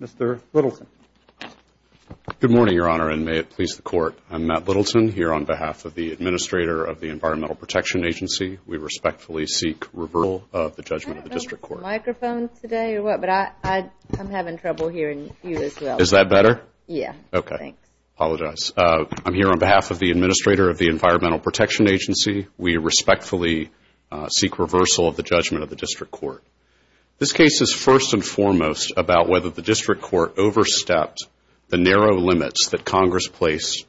Mr. Littleton. Good morning, Your Honor, and may it please the Court. I'm Matt Littleton, here on behalf of the Administrator of the Environmental Protection Agency. We respectfully seek reversal of the judgment of the District Court. I don't know if we have microphones today or what, but I'm having trouble hearing you as well. Is that better? Yes. Okay. Thanks. Apologize. I'm here on behalf of the Administrator of the Environmental Protection Agency. We respectfully seek reversal of the judgment of the District Court. This case is first and foremost about whether the District Court overstepped the narrow limits that Congress placed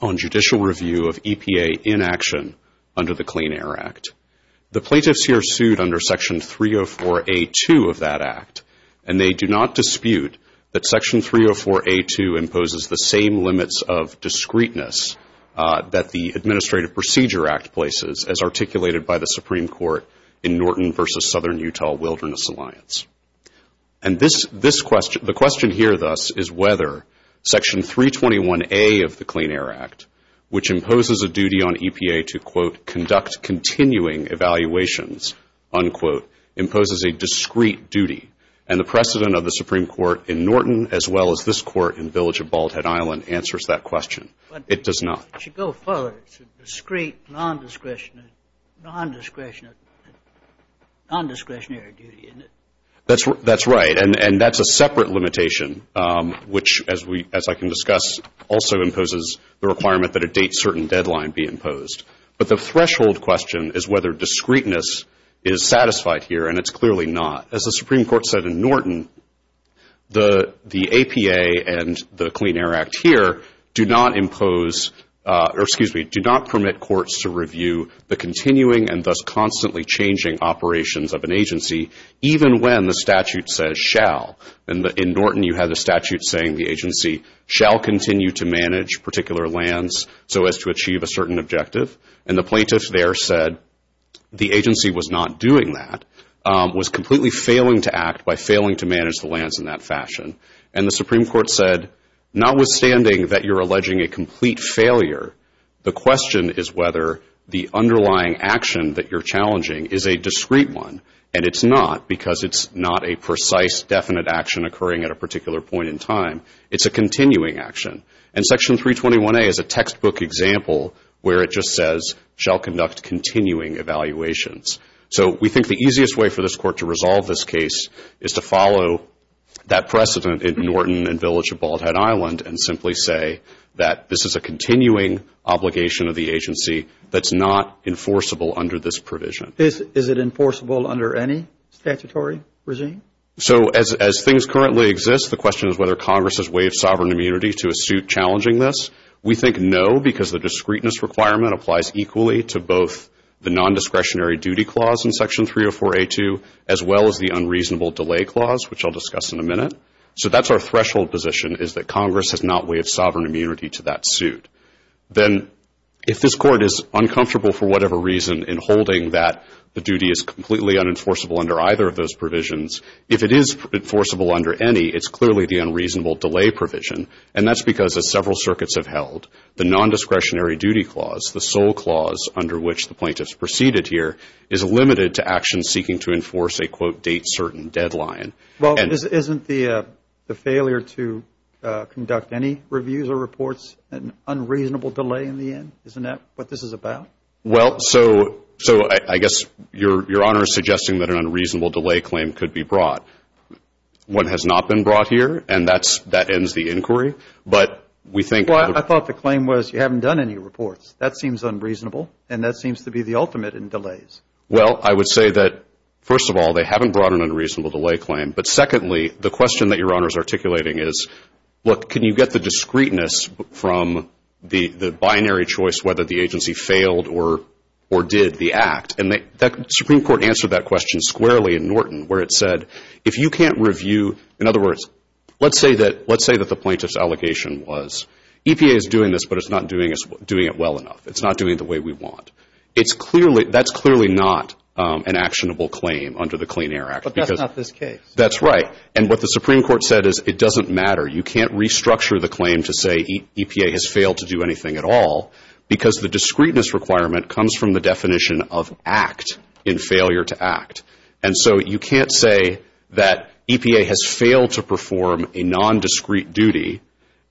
on judicial review of EPA inaction under the Clean Air Act. The plaintiffs here sued under Section 304A2 of that act, and they do not dispute that Section 304A2 imposes the same limits of discreteness that the Administrative Procedure Act places as articulated by the Supreme Court in Norton v. Southern Utah Wilderness Alliance. And the question here, thus, is whether Section 321A of the Clean Air Act, which imposes a duty on EPA to, quote, conduct continuing evaluations, unquote, imposes a discreet duty, and the precedent of the Supreme Court in Norton as well as this Court in Village of Bald Head Island answers that question. It does not. It should go further. It's a discreet, nondiscretionary duty, isn't it? That's right, and that's a separate limitation, which, as I can discuss, also imposes the requirement that a date certain deadline be imposed. But the threshold question is whether discreteness is satisfied here, and it's clearly not. As the Supreme Court said in Norton, the APA and the Clean Air Act here do not impose or, excuse me, do not permit courts to review the continuing and thus constantly changing operations of an agency, even when the statute says shall. In Norton, you have the statute saying the agency shall continue to manage particular lands so as to achieve a certain objective, and the plaintiff there said the agency was not doing that, was completely failing to act by failing to manage the lands in that fashion. And the Supreme Court said notwithstanding that you're alleging a complete failure, the question is whether the underlying action that you're challenging is a discreet one, and it's not because it's not a precise, definite action occurring at a particular point in time. It's a continuing action. And Section 321A is a textbook example where it just says shall conduct continuing evaluations. So we think the easiest way for this Court to resolve this case is to follow that precedent in Norton and Village of Bald Head Island and simply say that this is a continuing obligation of the agency that's not enforceable under this provision. Is it enforceable under any statutory regime? So as things currently exist, the question is whether Congress has waived sovereign immunity to a suit challenging this. We think no because the discreteness requirement applies equally to both the nondiscretionary duty clause in Section 304A2 as well as the unreasonable delay clause, which I'll discuss in a minute. So that's our threshold position is that Congress has not waived sovereign immunity to that suit. Then if this Court is uncomfortable for whatever reason in holding that the duty is completely unenforceable under either of those provisions, if it is enforceable under any, it's clearly the unreasonable delay provision. And that's because as several circuits have held, the nondiscretionary duty clause, the sole clause under which the plaintiffs proceeded here, is limited to actions seeking to enforce a quote date certain deadline. Well, isn't the failure to conduct any reviews or reports an unreasonable delay in the end? Isn't that what this is about? Well, so I guess Your Honor is suggesting that an unreasonable delay claim could be brought. One has not been brought here and that ends the inquiry. I thought the claim was you haven't done any reports. That seems unreasonable and that seems to be the ultimate in delays. Well, I would say that, first of all, they haven't brought an unreasonable delay claim. But secondly, the question that Your Honor is articulating is, look, can you get the discreteness from the binary choice whether the agency failed or did the act? And the Supreme Court answered that question squarely in Norton where it said if you can't review, in other words, let's say that the plaintiff's allocation was EPA is doing this, but it's not doing it well enough. It's not doing it the way we want. That's clearly not an actionable claim under the Clean Air Act. But that's not this case. That's right. And what the Supreme Court said is it doesn't matter. You can't restructure the claim to say EPA has failed to do anything at all because the discreteness requirement comes from the definition of act in failure to act. And so you can't say that EPA has failed to perform a nondiscrete duty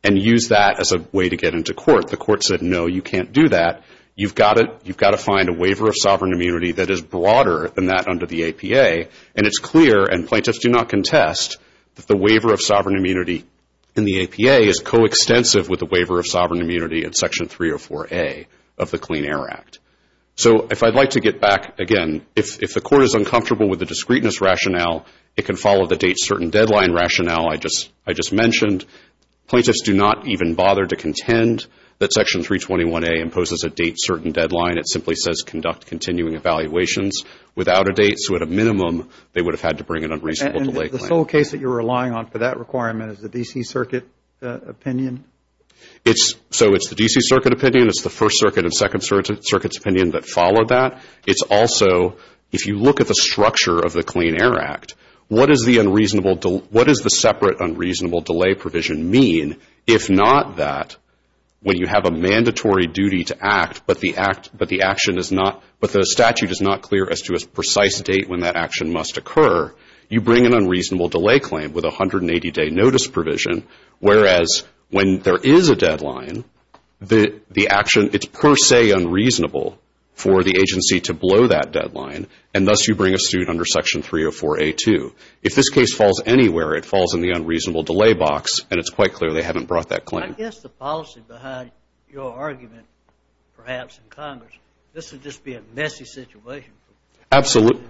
and use that as a way to get into court. The court said, no, you can't do that. You've got to find a waiver of sovereign immunity that is broader than that under the APA. And it's clear, and plaintiffs do not contest, that the waiver of sovereign immunity in the APA is coextensive with the waiver of sovereign immunity in Section 304A of the Clean Air Act. So if I'd like to get back, again, if the court is uncomfortable with the discreteness rationale, it can follow the date-certain-deadline rationale I just mentioned. Plaintiffs do not even bother to contend that Section 321A imposes a date-certain-deadline. It simply says conduct continuing evaluations without a date. So at a minimum, they would have had to bring an unreasonable delay claim. So the sole case that you're relying on for that requirement is the D.C. Circuit opinion? So it's the D.C. Circuit opinion. It's the First Circuit and Second Circuit's opinion that follow that. It's also, if you look at the structure of the Clean Air Act, what does the separate unreasonable delay provision mean, if not that when you have a mandatory duty to act but the statute is not clear as to a precise date when that action must occur, you bring an unreasonable delay claim with a 180-day notice provision, whereas when there is a deadline, the action, it's per se unreasonable for the agency to blow that deadline, and thus you bring a suit under Section 304A2. If this case falls anywhere, it falls in the unreasonable delay box, and it's quite clear they haven't brought that claim. I guess the policy behind your argument, perhaps in Congress, this would just be a messy situation. Absolutely.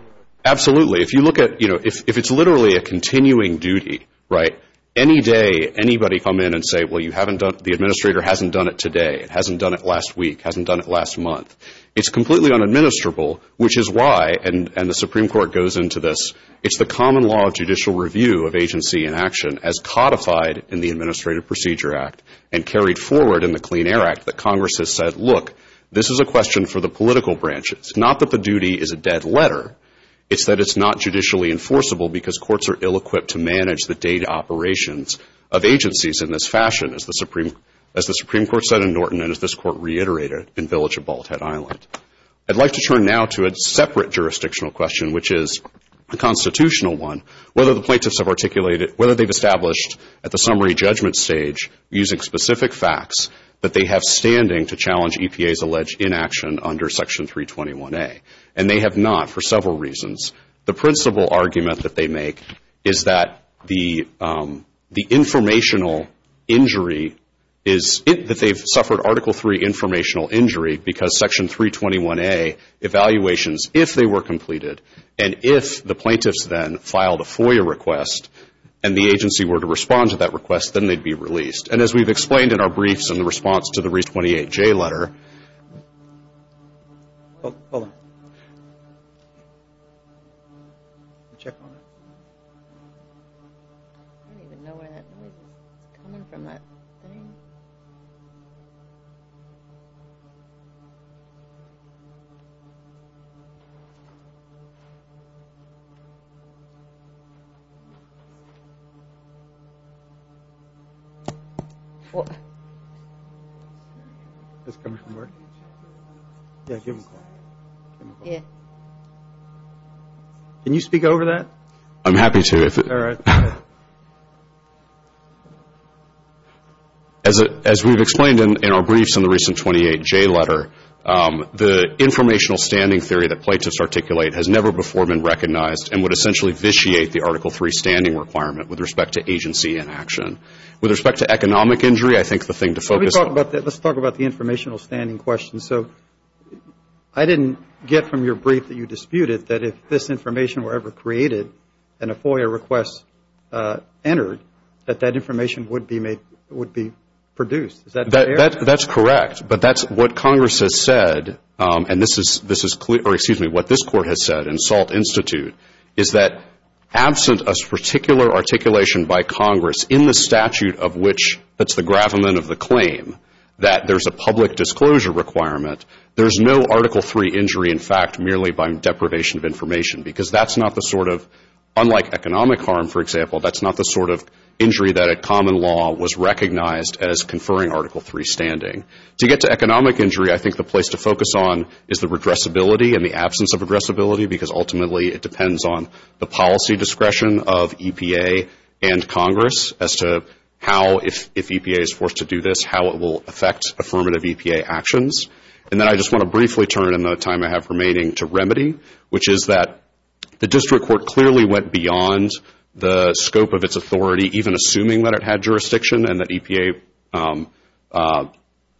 Absolutely. If you look at, you know, if it's literally a continuing duty, right, any day anybody come in and say, well, you haven't done, the administrator hasn't done it today, hasn't done it last week, hasn't done it last month, it's completely unadministrable, which is why, and the Supreme Court goes into this, it's the common law of judicial review of agency in action as codified in the Administrative Procedure Act and carried forward in the Clean Air Act that Congress has said, look, this is a question for the political branches, not that the duty is a dead letter, it's that it's not judicially enforceable because courts are ill-equipped to manage the data operations of agencies in this fashion, as the Supreme Court said in Norton and as this Court reiterated in Village of Bald Head Island. I'd like to turn now to a separate jurisdictional question, which is a constitutional one, whether the plaintiffs have articulated, whether they've established at the summary judgment stage, using specific facts, that they have standing to challenge EPA's alleged inaction under Section 321A. And they have not for several reasons. The principal argument that they make is that the informational injury is, that they've suffered Article III informational injury because Section 321A evaluations, if they were completed, and if the plaintiffs then filed a FOIA request and the agency were to respond to that request, then they'd be released. And as we've explained in our briefs in response to the Re28J letter. Hold on. Check on it. I don't even know where that noise is coming from. Can you speak over that? I'm happy to. As we've explained in our briefs in the recent 28J letter, the informational standing theory that plaintiffs articulate has never before been recognized and would essentially vitiate the Article III standing requirement with respect to agency inaction. With respect to economic injury, I think the thing to focus on. Let's talk about the informational standing question. So I didn't get from your brief that you disputed that if this information were ever created and a FOIA request entered, that that information would be produced. Is that fair? That's correct. But that's what Congress has said, and this is clear, or excuse me, what this Court has said in Salt Institute, is that absent a particular articulation by Congress in the statute of which that's the gravamen of the claim, that there's a public disclosure requirement, there's no Article III injury in fact merely by deprivation of information because that's not the sort of, unlike economic harm, for example, that's not the sort of injury that at common law was recognized as conferring Article III standing. To get to economic injury, I think the place to focus on is the regressibility and the absence of regressibility because ultimately it depends on the policy discretion of EPA and Congress as to how, if EPA is forced to do this, how it will affect affirmative EPA actions. And then I just want to briefly turn in the time I have remaining to remedy, which is that the district court clearly went beyond the scope of its authority, even assuming that it had jurisdiction and that EPA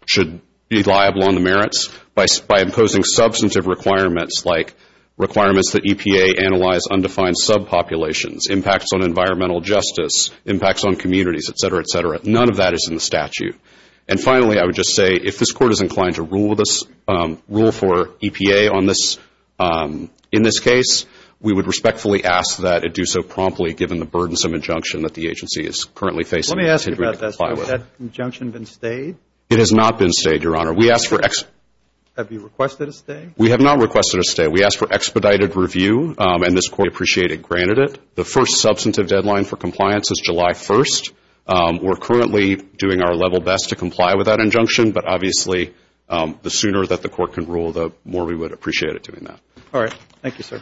should be liable on the merits by imposing substantive requirements like requirements that EPA analyze undefined subpopulations, impacts on environmental justice, impacts on communities, et cetera, et cetera. None of that is in the statute. And finally, I would just say, if this court is inclined to rule for EPA on this, in this case, we would respectfully ask that it do so promptly given the burdensome injunction that the agency is currently facing. Let me ask you about that. Has that injunction been stayed? It has not been stayed, Your Honor. Have you requested a stay? We have not requested a stay. We asked for expedited review, and this court appreciated granted it. The first substantive deadline for compliance is July 1st. We're currently doing our level best to comply with that injunction, but obviously the sooner that the court can rule, the more we would appreciate it doing that. All right. Thank you, sir.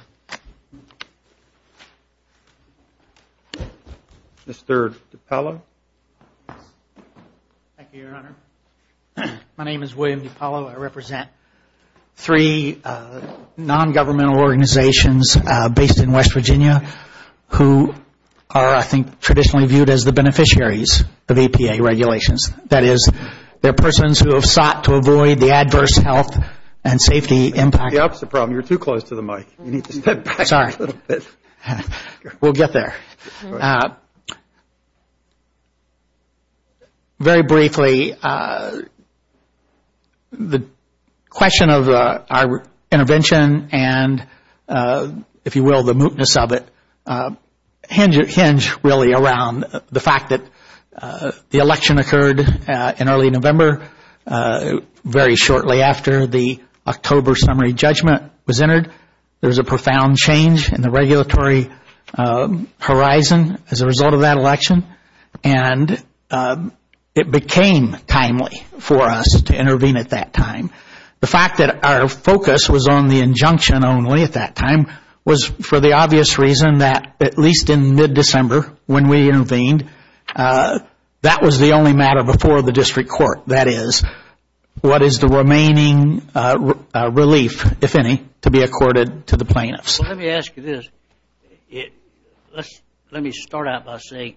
Mr. DiPaolo. Thank you, Your Honor. My name is William DiPaolo. I represent three nongovernmental organizations based in West Virginia who are, I think, traditionally viewed as the beneficiaries of EPA regulations. That is, they're persons who have sought to avoid the adverse health and safety impact. That's the opposite problem. You're too close to the mic. You need to step back a little bit. Sorry. We'll get there. Very briefly, the question of our intervention and, if you will, the mootness of it hinge really around the fact that the election occurred in early November, very shortly after the October summary judgment was entered. There was a profound change in the regulatory horizon as a result of that election, and it became timely for us to intervene at that time. The fact that our focus was on the injunction only at that time was for the obvious reason that, at least in mid-December when we intervened, that was the only matter before the district court. That is, what is the remaining relief, if any, to be accorded to the plaintiffs. Let me ask you this. Let me start out by saying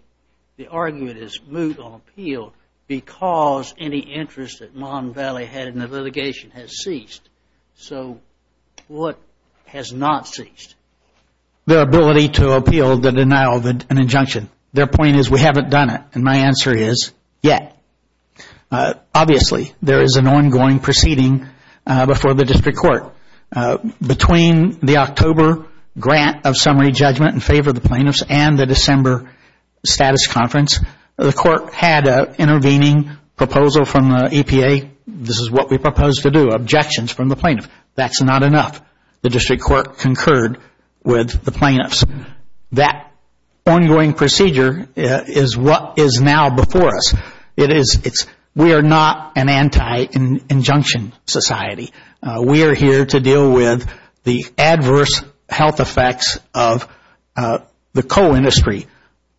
the argument is moot on appeal because any interest that Mon Valley had in the litigation has ceased. So what has not ceased? The ability to appeal the denial of an injunction. Their point is we haven't done it, and my answer is yet. Obviously, there is an ongoing proceeding before the district court. Between the October grant of summary judgment in favor of the plaintiffs and the December status conference, the court had an intervening proposal from the EPA. This is what we proposed to do, objections from the plaintiffs. That's not enough. The district court concurred with the plaintiffs. That ongoing procedure is what is now before us. We are not an anti-injunction society. We are here to deal with the adverse health effects of the coal industry.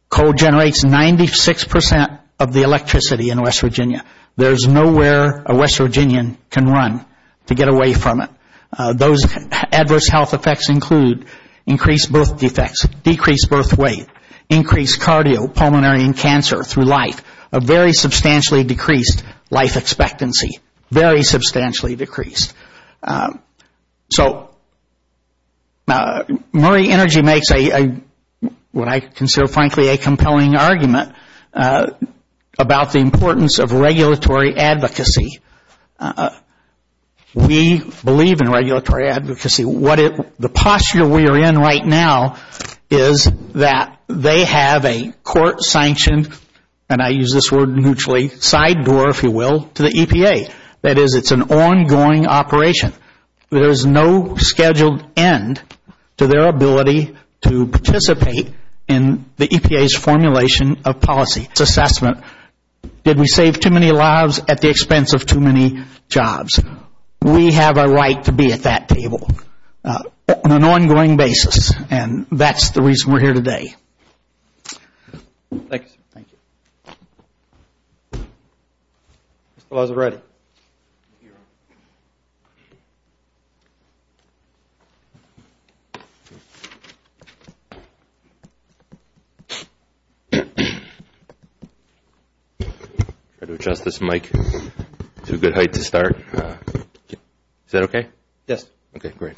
Coal generates 96% of the electricity in West Virginia. There is nowhere a West Virginian can run to get away from it. Those adverse health effects include increased birth defects, decreased birth weight, increased cardiopulmonary and cancer through life, a very substantially decreased life expectancy, very substantially decreased. So Murray Energy makes what I consider, frankly, a compelling argument about the importance of regulatory advocacy. We believe in regulatory advocacy. The posture we are in right now is that they have a court-sanctioned, and I use this word mutually, side door, if you will, to the EPA. That is, it's an ongoing operation. There is no scheduled end to their ability to participate in the EPA's formulation of policy. It's assessment, did we save too many lives at the expense of too many jobs? We have a right to be at that table on an ongoing basis, and that's the reason we're here today. Thank you, sir. Thank you. Thank you. Mr. Lazzaretti. Adjust this mic to a good height to start. Is that okay? Yes. Okay, great.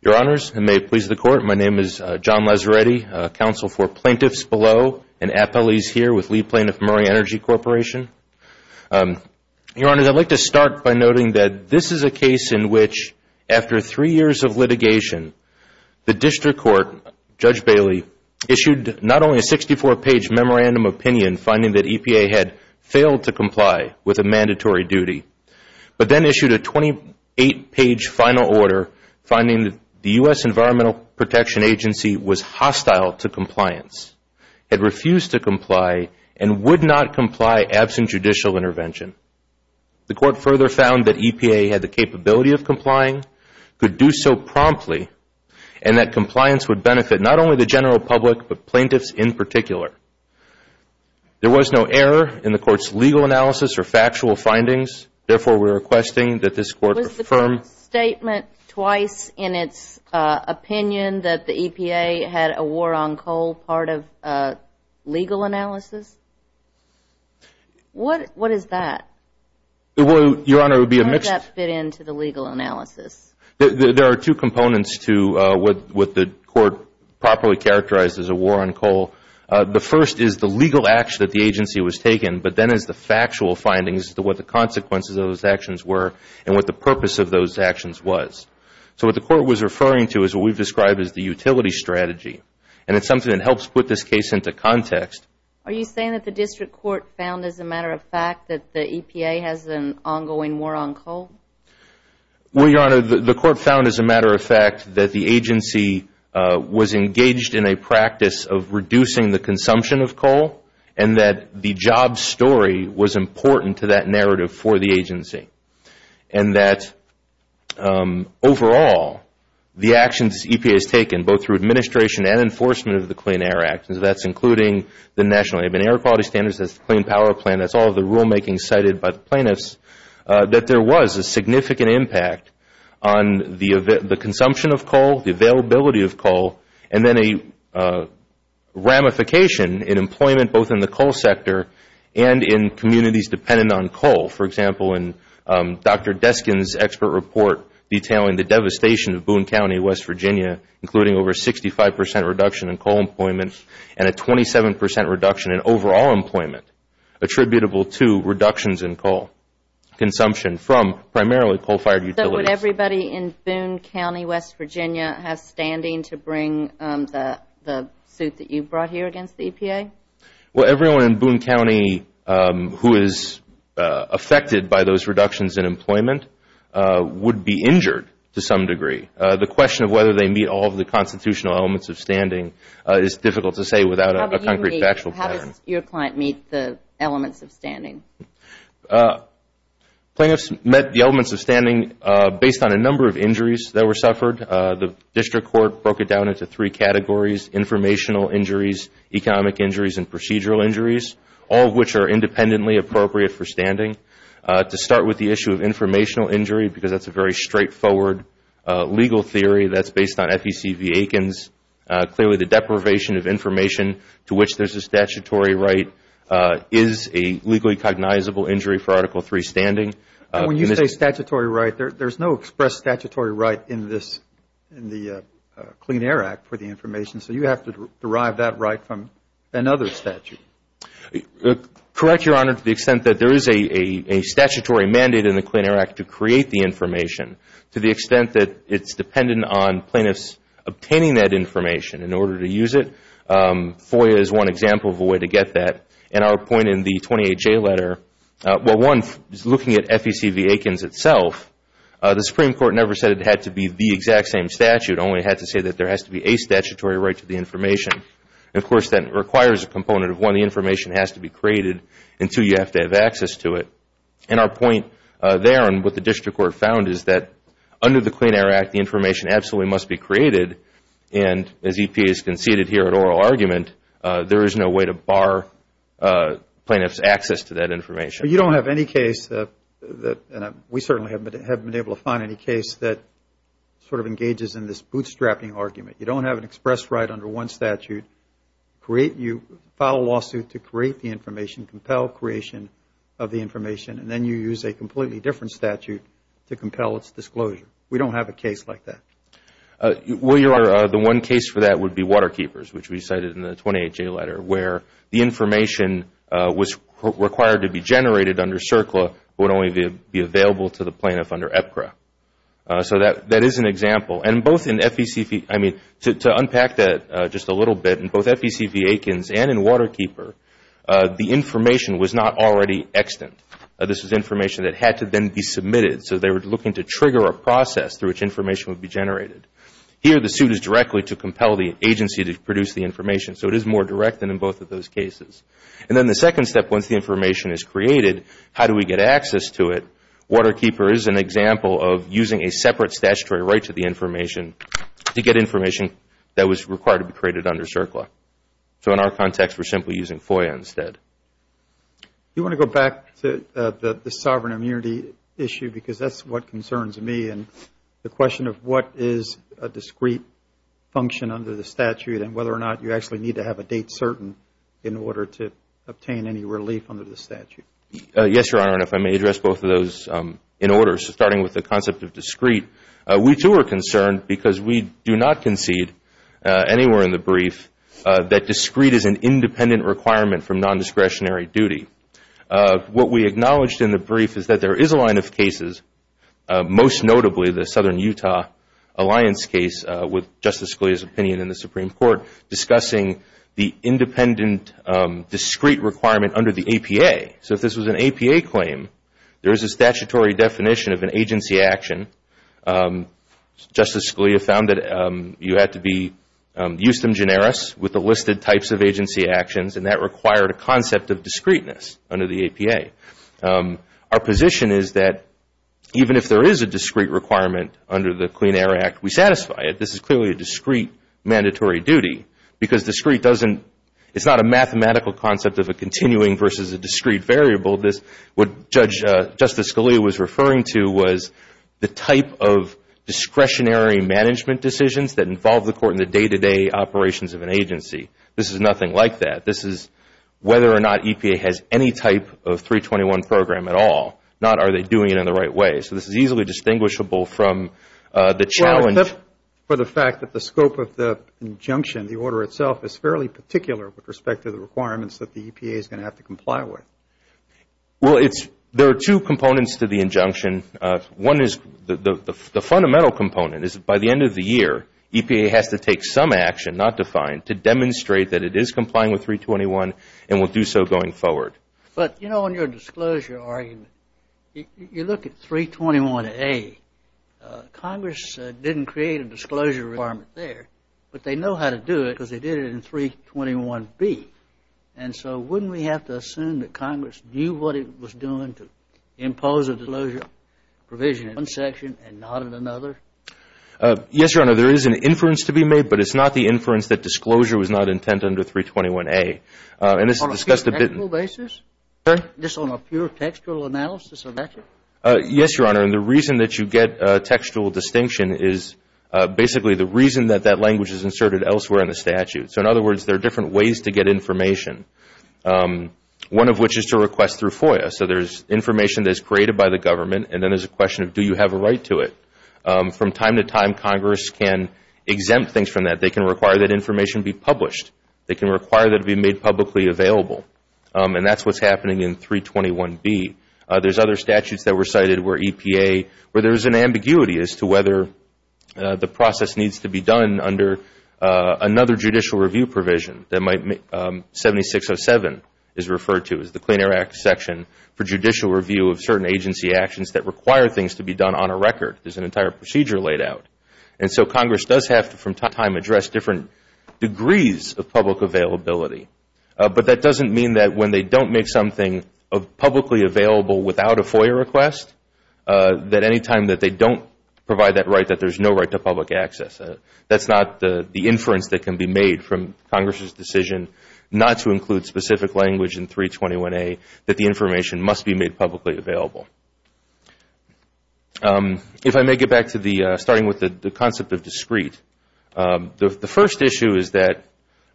Your Honors, and may it please the Court, my name is John Lazzaretti, counsel for plaintiffs below and appellees here with lead plaintiff, Murray Energy Corporation. Your Honors, I'd like to start by noting that this is a case in which after three years of litigation, the district court, Judge Bailey, issued not only a 64-page memorandum of opinion finding that EPA had failed to comply with a mandatory duty, but then issued a 28-page final order finding the U.S. Environmental Protection Agency was hostile to compliance, had refused to comply, and would not comply absent judicial intervention. The Court further found that EPA had the capability of complying, could do so promptly, and that compliance would benefit not only the general public, but plaintiffs in particular. There was no error in the Court's legal analysis or factual findings, therefore we're requesting that this Court affirm. There was a statement twice in its opinion that the EPA had a war on coal part of legal analysis. What is that? Your Honor, it would be a mixed. How does that fit into the legal analysis? There are two components to what the Court properly characterized as a war on coal. The first is the legal action that the agency was taken, but then is the factual findings as to what the consequences of those actions were and what the purpose of those actions was. So what the Court was referring to is what we've described as the utility strategy, and it's something that helps put this case into context. Are you saying that the District Court found, as a matter of fact, that the EPA has an ongoing war on coal? Well, Your Honor, the Court found, as a matter of fact, that the agency was engaged in a practice of reducing the consumption of coal and that the job story was important to that narrative for the agency and that, overall, the actions EPA has taken, both through administration and enforcement of the Clean Air Act, that's including the National Air Quality Standards, that's the Clean Power Plan, that's all of the rulemaking cited by the plaintiffs, that there was a significant impact on the consumption of coal, the availability of coal, and then a ramification in employment both in the coal sector and in communities dependent on coal. For example, in Dr. Deskin's expert report detailing the devastation of Boone County, West Virginia, including over a 65 percent reduction in coal employment and a 27 percent reduction in overall employment attributable to reductions in coal consumption from primarily coal-fired utilities. Would everybody in Boone County, West Virginia, have standing to bring the suit that you brought here against the EPA? Well, everyone in Boone County who is affected by those reductions in employment would be injured to some degree. The question of whether they meet all of the constitutional elements of standing is difficult to say without a concrete factual pattern. How does your client meet the elements of standing? Plaintiffs met the elements of standing based on a number of injuries that were suffered. The district court broke it down into three categories, informational injuries, economic injuries, and procedural injuries, all of which are independently appropriate for standing. To start with the issue of informational injury, because that's a very straightforward legal theory that's based on FEC v. Aikens, clearly the deprivation of information to which there's a statutory right is a legally cognizable injury for Article III standing. When you say statutory right, there's no express statutory right in the Clean Air Act for the information, so you have to derive that right from another statute. Correct, Your Honor, to the extent that there is a statutory mandate in the Clean Air Act to create the information to the extent that it's dependent on plaintiffs obtaining that information in order to use it, FOIA is one example of a way to get that. And our point in the 28J letter, well, one, looking at FEC v. Aikens itself, the Supreme Court never said it had to be the exact same statute, only it had to say that there has to be a statutory right to the information. Of course, that requires a component of, one, the information has to be created, and two, you have to have access to it. And our point there and what the district court found is that under the Clean Air Act, the information absolutely must be created, and as EPA has conceded here at oral argument, there is no way to bar plaintiffs' access to that information. But you don't have any case, and we certainly haven't been able to find any case, that sort of engages in this bootstrapping argument. You don't have an express right under one statute. You file a lawsuit to create the information, compel creation of the information, and then you use a completely different statute to compel its disclosure. We don't have a case like that. Well, Your Honor, the one case for that would be Water Keepers, which we cited in the 28J letter, where the information was required to be generated under CERCLA, but would only be available to the plaintiff under EPCRA. So that is an example, and both in FEC v. I mean, to unpack that just a little bit, in both FEC v. Aikens and in Water Keeper, the information was not already extant. This was information that had to then be submitted. So they were looking to trigger a process through which information would be generated. Here, the suit is directly to compel the agency to produce the information. So it is more direct than in both of those cases. And then the second step, once the information is created, how do we get access to it? Water Keeper is an example of using a separate statutory right to the information to get information that was required to be created under CERCLA. So in our context, we're simply using FOIA instead. You want to go back to the sovereign immunity issue, because that's what concerns me, and the question of what is a discrete function under the statute and whether or not you actually need to have a date certain in order to obtain any relief under the statute. Yes, Your Honor, and if I may address both of those in order, starting with the concept of discrete. We, too, are concerned because we do not concede anywhere in the brief that discrete is an independent requirement from nondiscretionary duty. What we acknowledged in the brief is that there is a line of cases, most notably the Southern Utah Alliance case with Justice Scalia's opinion in the Supreme Court, discussing the independent discrete requirement under the APA. So if this was an APA claim, there is a statutory definition of an agency action. Justice Scalia found that you had to be justum generis with the listed types of agency actions, and that required a concept of discreteness under the APA. Our position is that even if there is a discrete requirement under the Clean Air Act, we satisfy it. This is clearly a discrete mandatory duty, because discrete doesn't – it's not a mathematical concept of a continuing versus a discrete variable. What Justice Scalia was referring to was the type of discretionary management decisions that involve the court in the day-to-day operations of an agency. This is nothing like that. This is whether or not EPA has any type of 321 program at all, not are they doing it in the right way. So this is easily distinguishable from the challenge. Well, except for the fact that the scope of the injunction, the order itself, is fairly particular with respect to the requirements that the EPA is going to have to comply with. Well, it's – there are two components to the injunction. One is the fundamental component is by the end of the year, EPA has to take some action, not defined, to demonstrate that it is complying with 321 and will do so going forward. But, you know, on your disclosure argument, you look at 321A. Congress didn't create a disclosure requirement there, but they know how to do it because they did it in 321B. And so wouldn't we have to assume that Congress knew what it was doing to impose a disclosure provision in one section and not in another? Yes, Your Honor, there is an inference to be made, but it's not the inference that disclosure was not intent under 321A. On a pure textual basis? Sir? Just on a pure textual analysis of that? Yes, Your Honor, and the reason that you get textual distinction is basically the reason that that language is inserted elsewhere in the statute. So in other words, there are different ways to get information, one of which is to request through FOIA. So there's information that is created by the government, and then there's a question of do you have a right to it. From time to time, Congress can exempt things from that. They can require that information be published. They can require that it be made publicly available. And that's what's happening in 321B. There's other statutes that were cited where EPA – the process needs to be done under another judicial review provision that might – 7607 is referred to as the Clean Air Act section for judicial review of certain agency actions that require things to be done on a record. There's an entire procedure laid out. And so Congress does have to, from time to time, address different degrees of public availability. But that doesn't mean that when they don't make something publicly available without a FOIA request, that any time that they don't provide that right, that there's no right to public access. That's not the inference that can be made from Congress's decision not to include specific language in 321A, that the information must be made publicly available. If I may get back to the – starting with the concept of discrete. The first issue is that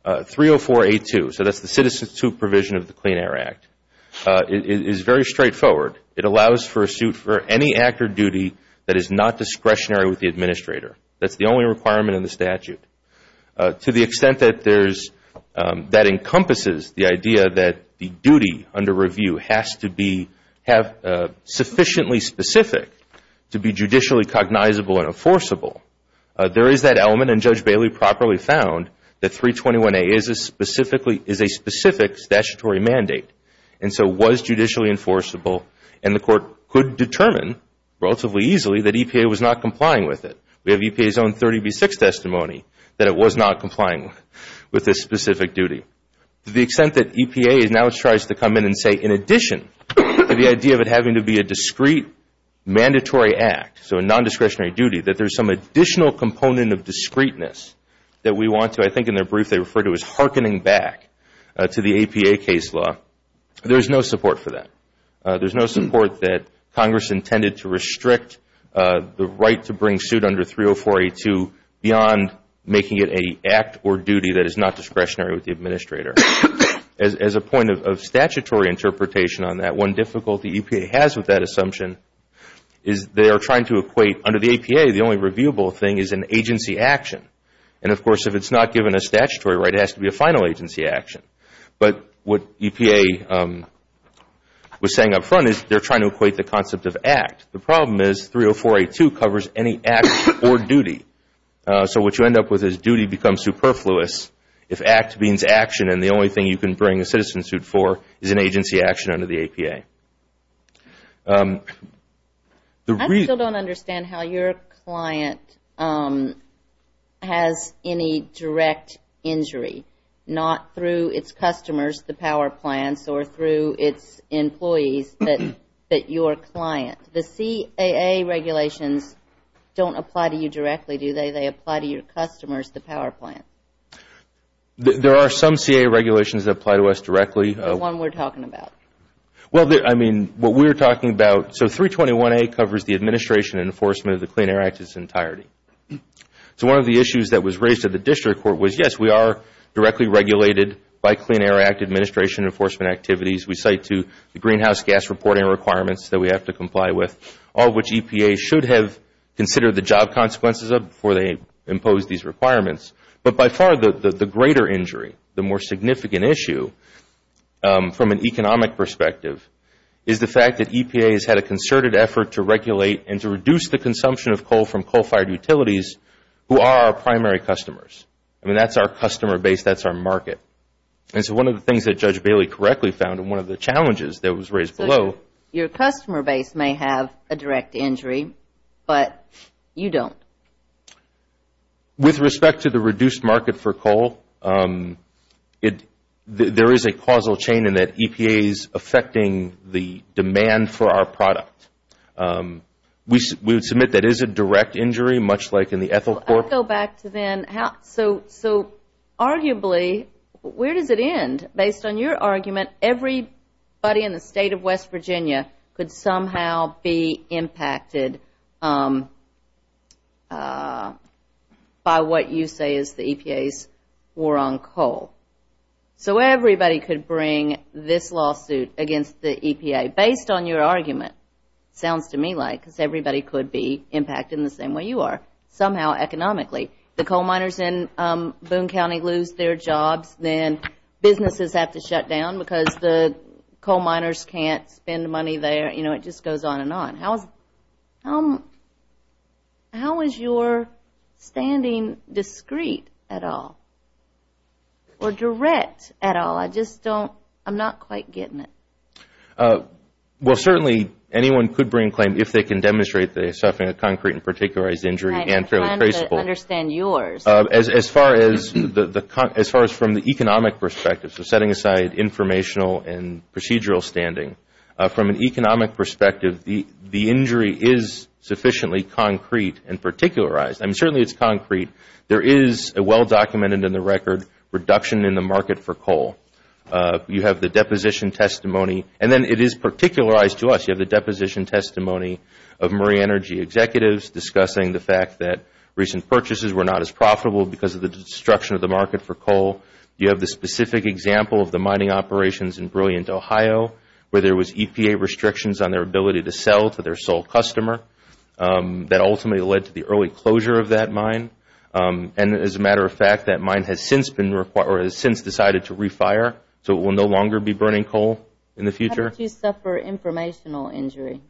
304A2, so that's the Citizens' Subprovision of the Clean Air Act, is very straightforward. It allows for a suit for any act or duty that is not discretionary with the administrator. That's the only requirement in the statute. To the extent that there's – that encompasses the idea that the duty under review has to be – have sufficiently specific to be judicially cognizable and enforceable, there is that element. And Judge Bailey properly found that 321A is a specific statutory mandate. And so was judicially enforceable. And the court could determine relatively easily that EPA was not complying with it. We have EPA's own 30B6 testimony that it was not complying with this specific duty. To the extent that EPA now tries to come in and say, in addition to the idea of it having to be a discrete mandatory act, so a nondiscretionary duty, that there's some additional component of discreteness that we want to – there's no support for that. There's no support that Congress intended to restrict the right to bring suit under 304A2 beyond making it an act or duty that is not discretionary with the administrator. As a point of statutory interpretation on that, one difficulty EPA has with that assumption is they are trying to equate – under the EPA, the only reviewable thing is an agency action. And, of course, if it's not given a statutory right, it has to be a final agency action. But what EPA was saying up front is they're trying to equate the concept of act. The problem is 304A2 covers any act or duty. So what you end up with is duty becomes superfluous if act means action, and the only thing you can bring a citizen suit for is an agency action under the EPA. I still don't understand how your client has any direct injury, not through its customers, the power plants, or through its employees, but your client. The CAA regulations don't apply to you directly, do they? They apply to your customers, the power plant. There are some CAA regulations that apply to us directly. The one we're talking about. Well, I mean, what we're talking about – so 321A covers the administration and enforcement of the Clean Air Act in its entirety. So one of the issues that was raised at the district court was, yes, we are directly regulated by Clean Air Act administration and enforcement activities. We cite to the greenhouse gas reporting requirements that we have to comply with, all which EPA should have considered the job consequences of before they imposed these requirements. But by far, the greater injury, the more significant issue from an economic perspective, is the fact that EPA has had a concerted effort to regulate and to reduce the consumption of coal from coal-fired utilities who are our primary customers. I mean, that's our customer base. That's our market. And so one of the things that Judge Bailey correctly found, and one of the challenges that was raised below – Your customer base may have a direct injury, but you don't. With respect to the reduced market for coal, there is a causal chain in that EPA is affecting the demand for our product. We would submit that is a direct injury, much like in the ethyl cork. I'll go back to then. So arguably, where does it end? Based on your argument, everybody in the State of West Virginia could somehow be impacted. By what you say is the EPA's war on coal. So everybody could bring this lawsuit against the EPA. Based on your argument, sounds to me like, because everybody could be impacted in the same way you are, somehow economically. The coal miners in Boone County lose their jobs. Then businesses have to shut down because the coal miners can't spend money there. You know, it just goes on and on. How is your standing discreet at all or direct at all? I just don't – I'm not quite getting it. Well, certainly anyone could bring a claim if they can demonstrate they are suffering a concrete and particularized injury and fairly traceable. I'm trying to understand yours. As far as from the economic perspective, so setting aside informational and procedural standing, from an economic perspective, the injury is sufficiently concrete and particularized. I mean, certainly it's concrete. There is a well-documented in the record reduction in the market for coal. You have the deposition testimony, and then it is particularized to us. You have the deposition testimony of Murray Energy executives discussing the fact that recent purchases were not as profitable because of the destruction of the market for coal. You have the specific example of the mining operations in Brilliant, Ohio, where there was EPA restrictions on their ability to sell to their sole customer. That ultimately led to the early closure of that mine. And as a matter of fact, that mine has since been – or has since decided to re-fire, so it will no longer be burning coal in the future. How did you suffer informational injury?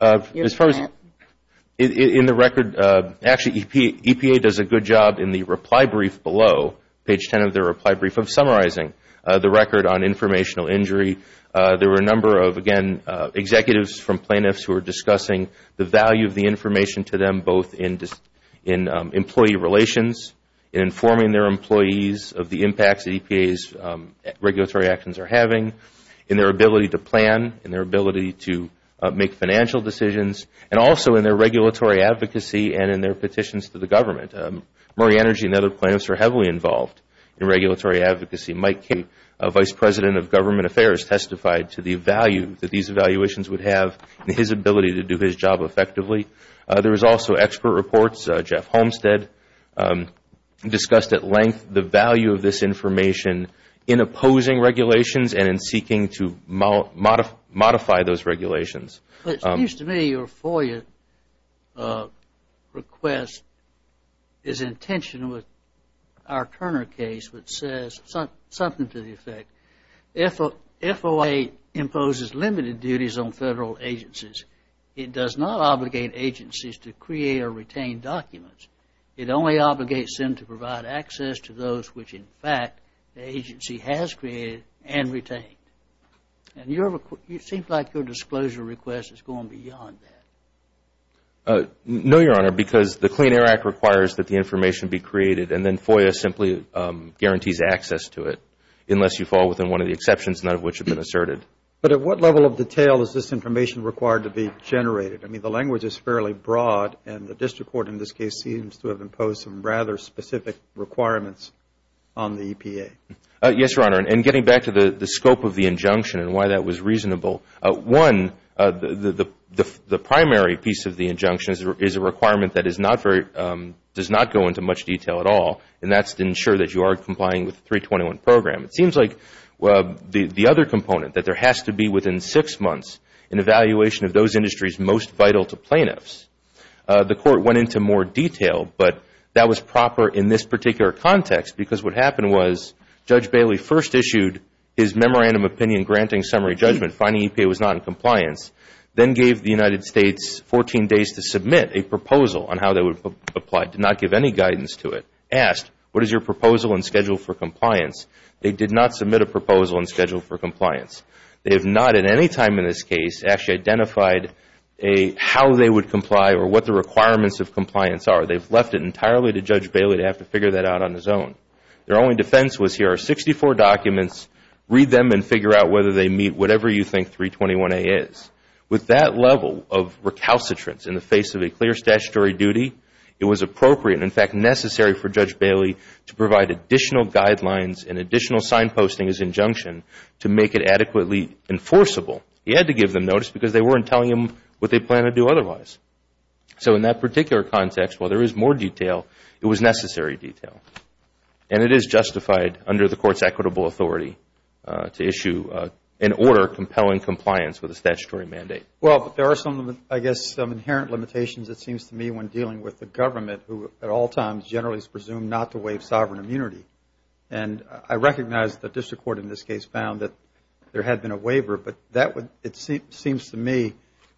As far as – in the record – actually, EPA does a good job in the reply brief below page 10 of their reply brief of summarizing the record on informational injury. There were a number of, again, executives from plaintiffs who were discussing the value of the information to them both in employee relations, in informing their employees of the impacts that EPA's regulatory actions are having, in their ability to plan, in their ability to make financial decisions, and also in their regulatory advocacy and in their petitions to the government. Murray Energy and other plaintiffs are heavily involved in regulatory advocacy. Mike Cape, Vice President of Government Affairs, testified to the value that these evaluations would have in his ability to do his job effectively. There was also expert reports. Jeff Homestead discussed at length the value of this information in opposing regulations and in seeking to modify those regulations. It seems to me your FOIA request is in tension with our Turner case, which says something to the effect, FOA imposes limited duties on federal agencies. It does not obligate agencies to create or retain documents. It only obligates them to provide access to those which, in fact, the agency has created and retained. And it seems like your disclosure request is going beyond that. No, Your Honor, because the Clean Air Act requires that the information be created and then FOIA simply guarantees access to it, unless you fall within one of the exceptions, none of which have been asserted. But at what level of detail is this information required to be generated? I mean, the language is fairly broad, and the district court in this case seems to have imposed some rather specific requirements on the EPA. Yes, Your Honor, and getting back to the scope of the injunction and why that was reasonable, one, the primary piece of the injunction is a requirement that does not go into much detail at all, and that's to ensure that you are complying with the 321 program. It seems like the other component, that there has to be within six months an evaluation of those industries most vital to plaintiffs. The court went into more detail, but that was proper in this particular context because what happened was Judge Bailey first issued his memorandum of opinion granting summary judgment, finding EPA was not in compliance, then gave the United States 14 days to submit a proposal on how they would apply. Did not give any guidance to it. Asked, what is your proposal and schedule for compliance? They did not submit a proposal and schedule for compliance. They have not at any time in this case actually identified how they would comply or what the requirements of compliance are. They have left it entirely to Judge Bailey to have to figure that out on his own. Their only defense was here are 64 documents. Read them and figure out whether they meet whatever you think 321A is. With that level of recalcitrance in the face of a clear statutory duty, it was appropriate and, in fact, necessary for Judge Bailey to provide additional guidelines and additional signposting as injunction to make it adequately enforceable. He had to give them notice because they weren't telling him what they planned to do otherwise. So in that particular context, while there is more detail, it was necessary detail. And it is justified under the court's equitable authority to issue an order compelling compliance with a statutory mandate. Well, there are some, I guess, inherent limitations it seems to me when dealing with the government who at all times generally is presumed not to waive sovereign immunity. And I recognize the district court in this case found that there had been a waiver, but that would, it seems to me,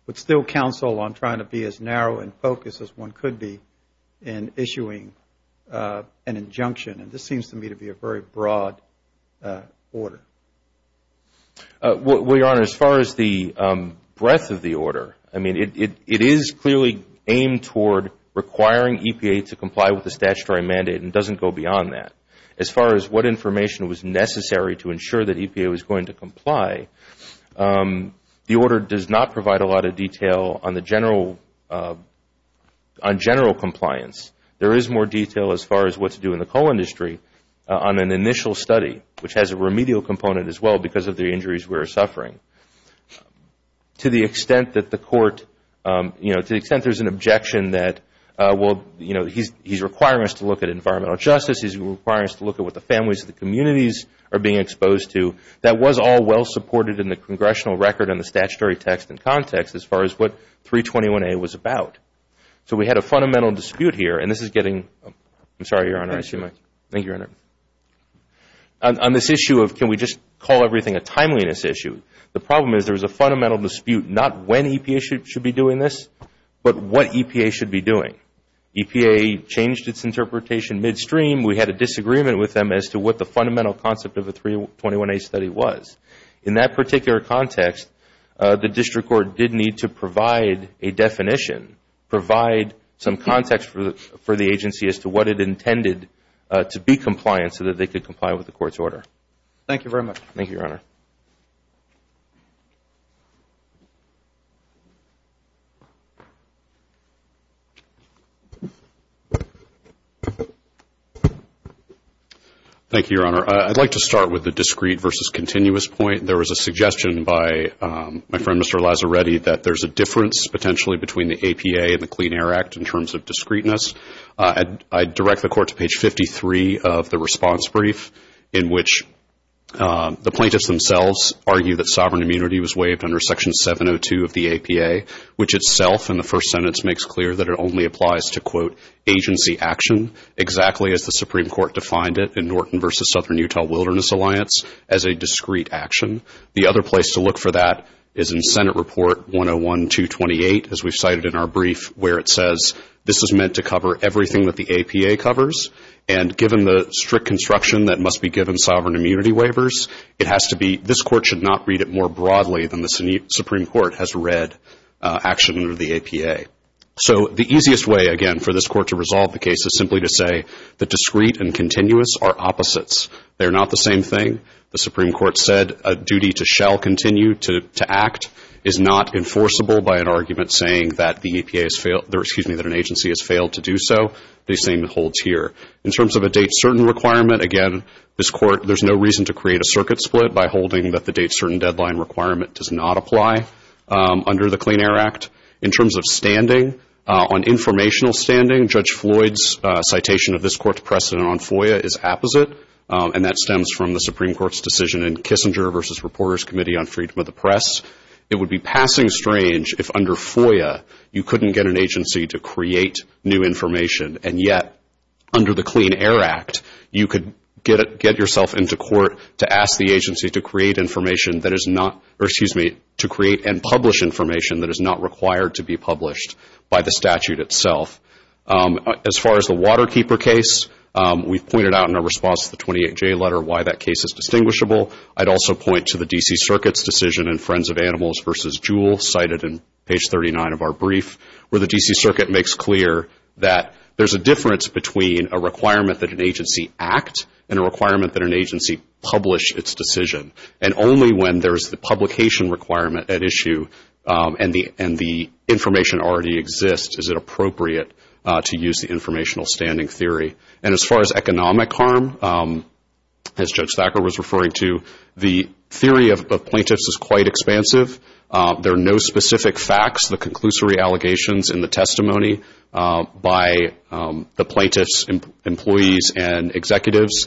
would still counsel on trying to be as narrow and focused as one could be in issuing an injunction. And this seems to me to be a very broad order. Well, Your Honor, as far as the breadth of the order, I mean, it is clearly aimed toward requiring EPA to comply with the statutory mandate and doesn't go beyond that. As far as what information was necessary to ensure that EPA was going to comply, the order does not provide a lot of detail on general compliance. There is more detail as far as what to do in the coal industry on an initial study, which has a remedial component as well because of the injuries we are suffering. To the extent that the court, you know, to the extent there is an objection that, well, you know, he is requiring us to look at environmental justice. He is requiring us to look at what the families of the communities are being exposed to. That was all well supported in the congressional record and the statutory text and context as far as what 321A was about. So we had a fundamental dispute here, and this is getting, I am sorry, Your Honor. Thank you. On this issue of can we just call everything a timeliness issue, the problem is there is a fundamental dispute not when EPA should be doing this, but what EPA should be doing. EPA changed its interpretation midstream. We had a disagreement with them as to what the fundamental concept of the 321A study was. In that particular context, the district court did need to provide a definition, provide some context for the agency as to what it intended to be compliant so that they could comply with the court's order. Thank you very much. Thank you, Your Honor. Thank you, Your Honor. I would like to start with the discrete versus continuous point. There was a suggestion by my friend, Mr. Lazzaretti, that there is a difference potentially between the APA and the Clean Air Act in terms of discreteness. I direct the court to page 53 of the response brief, in which the plaintiffs themselves argue that sovereign immunity was waived under section 702 of the APA, which itself in the first sentence makes clear that it only applies to, quote, agency action, exactly as the Supreme Court defined it in Norton versus Southern Utah Wilderness Alliance as a discrete action. The other place to look for that is in Senate Report 101-228, as we've cited in our brief, where it says, this is meant to cover everything that the APA covers, and given the strict construction that must be given sovereign immunity waivers, it has to be, this court should not read it more broadly than the Supreme Court has read action under the APA. So the easiest way, again, for this court to resolve the case is simply to say the discrete and continuous are opposites. They are not the same thing. The Supreme Court said a duty to shall continue to act is not enforceable by an argument saying that an agency has failed to do so. The same holds here. In terms of a date certain requirement, again, this court, there's no reason to create a circuit split by holding that the date certain deadline requirement does not apply under the Clean Air Act. In terms of standing, on informational standing, Judge Floyd's citation of this court's precedent on FOIA is opposite, and that stems from the Supreme Court's decision in Kissinger versus Reporters Committee on Freedom of the Press. It would be passing strange if under FOIA you couldn't get an agency to create new information, and yet under the Clean Air Act, you could get yourself into court to ask the agency to create information that is not, or excuse me, to create and publish information that is not required to be published by the statute itself. As far as the Waterkeeper case, we've pointed out in our response to the 28-J letter why that case is distinguishable. I'd also point to the D.C. Circuit's decision in Friends of Animals versus Jewell, cited in page 39 of our brief, where the D.C. Circuit makes clear that there's a difference between a requirement that an agency act and a requirement that an agency publish its decision, and only when there's the publication requirement at issue and the information already exists is it appropriate to use the informational standing theory. And as far as economic harm, as Judge Thacker was referring to, the theory of plaintiffs is quite expansive. There are no specific facts. The conclusory allegations in the testimony by the plaintiffs' employees and executives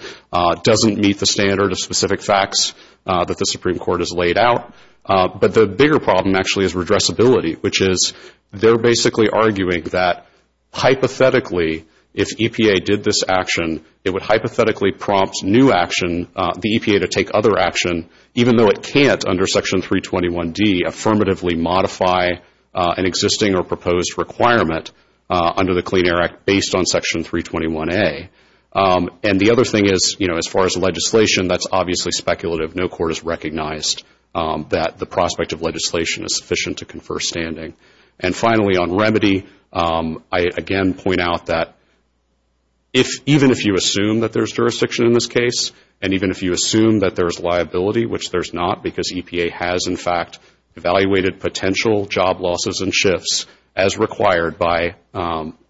doesn't meet the standard of specific facts that the Supreme Court has laid out. But the bigger problem actually is redressability, which is they're basically arguing that hypothetically, if EPA did this action, it would hypothetically prompt new action, the EPA, to take other action, even though it can't under Section 321D affirmatively modify an existing or proposed requirement under the Clean Air Act based on Section 321A. And the other thing is, you know, as far as the legislation, that's obviously speculative. No court has recognized that the prospect of legislation is sufficient to confer standing. And finally, on remedy, I again point out that even if you assume that there's jurisdiction in this case and even if you assume that there's liability, which there's not because EPA has, in fact, evaluated potential job losses and shifts as required by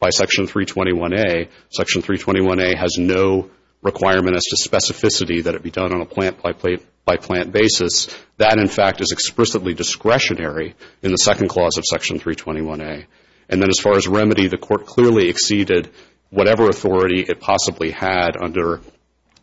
Section 321A, Section 321A has no requirement as to specificity that it be done on a plant-by-plant basis. That, in fact, is explicitly discretionary in the second clause of Section 321A. And then as far as remedy, the court clearly exceeded whatever authority it possibly had under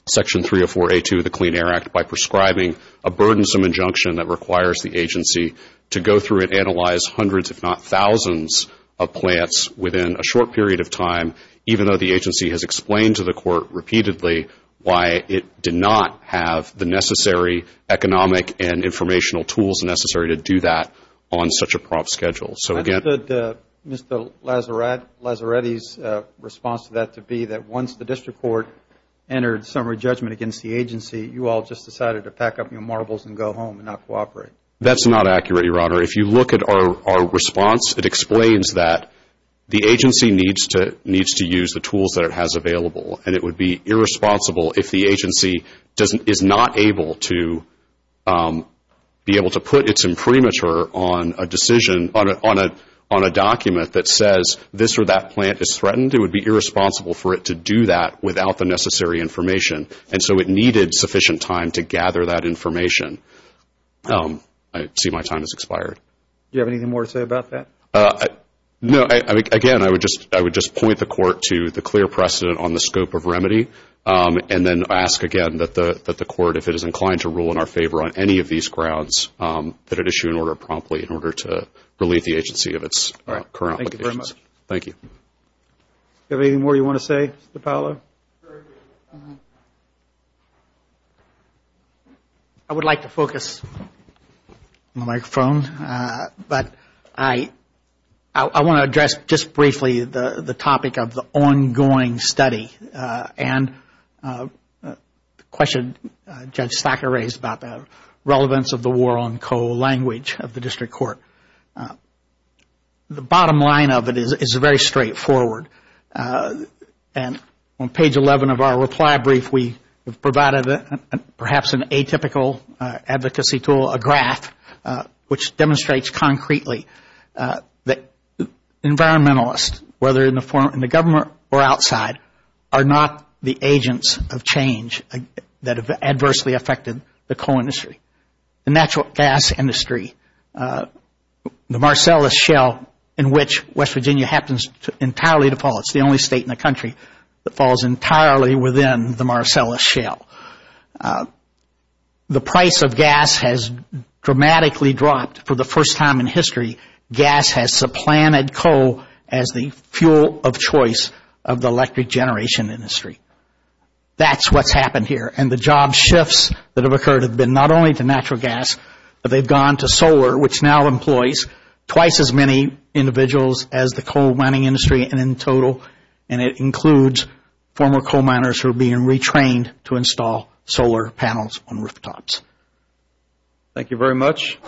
Section 304A2 of the Clean Air Act by prescribing a burdensome injunction that requires the agency to go through and analyze hundreds, if not thousands, of plants within a short period of time, even though the agency has explained to the court repeatedly why it did not have the necessary economic and informational tools necessary to do that on such a prompt schedule. So again... I understood Mr. Lazzaretti's response to that to be that once the district court entered summary judgment against the agency, you all just decided to pack up your marbles and go home and not cooperate. That's not accurate, Your Honor. If you look at our response, it explains that the agency needs to use the tools that it has available, and it would be irresponsible if the agency is not able to be able to put its imprimatur on a decision, on a document that says this or that plant is threatened. It would be irresponsible for it to do that without the necessary information. And so it needed sufficient time to gather that information. I see my time has expired. Do you have anything more to say about that? No. Again, I would just point the court to the clear precedent on the scope of remedy and then ask again that the court, if it is inclined to rule in our favor on any of these grounds, that it issue an order promptly in order to relieve the agency of its current obligations. All right. Thank you very much. Thank you. Do you have anything more you want to say, Mr. Paolo? No. I would like to focus on the microphone, but I want to address just briefly the topic of the ongoing study and the question Judge Stacker raised about the relevance of the war on coal language of the district court. The bottom line of it is it's very straightforward. And on page 11 of our reply brief, we have provided perhaps an atypical advocacy tool, a graph, which demonstrates concretely that environmentalists, whether in the government or outside, are not the agents of change that have adversely affected the coal industry. The natural gas industry, the Marcellus Shell, in which West Virginia happens entirely to fall, it's the only state in the country that falls entirely within the Marcellus Shell. The price of gas has dramatically dropped. For the first time in history, gas has supplanted coal as the fuel of choice of the electric generation industry. That's what's happened here. And the job shifts that have occurred have been not only to natural gas, but they've gone to solar, which now employs twice as many individuals as the coal mining industry in total, and it includes former coal miners who are being retrained to install solar panels on rooftops. Thank you very much.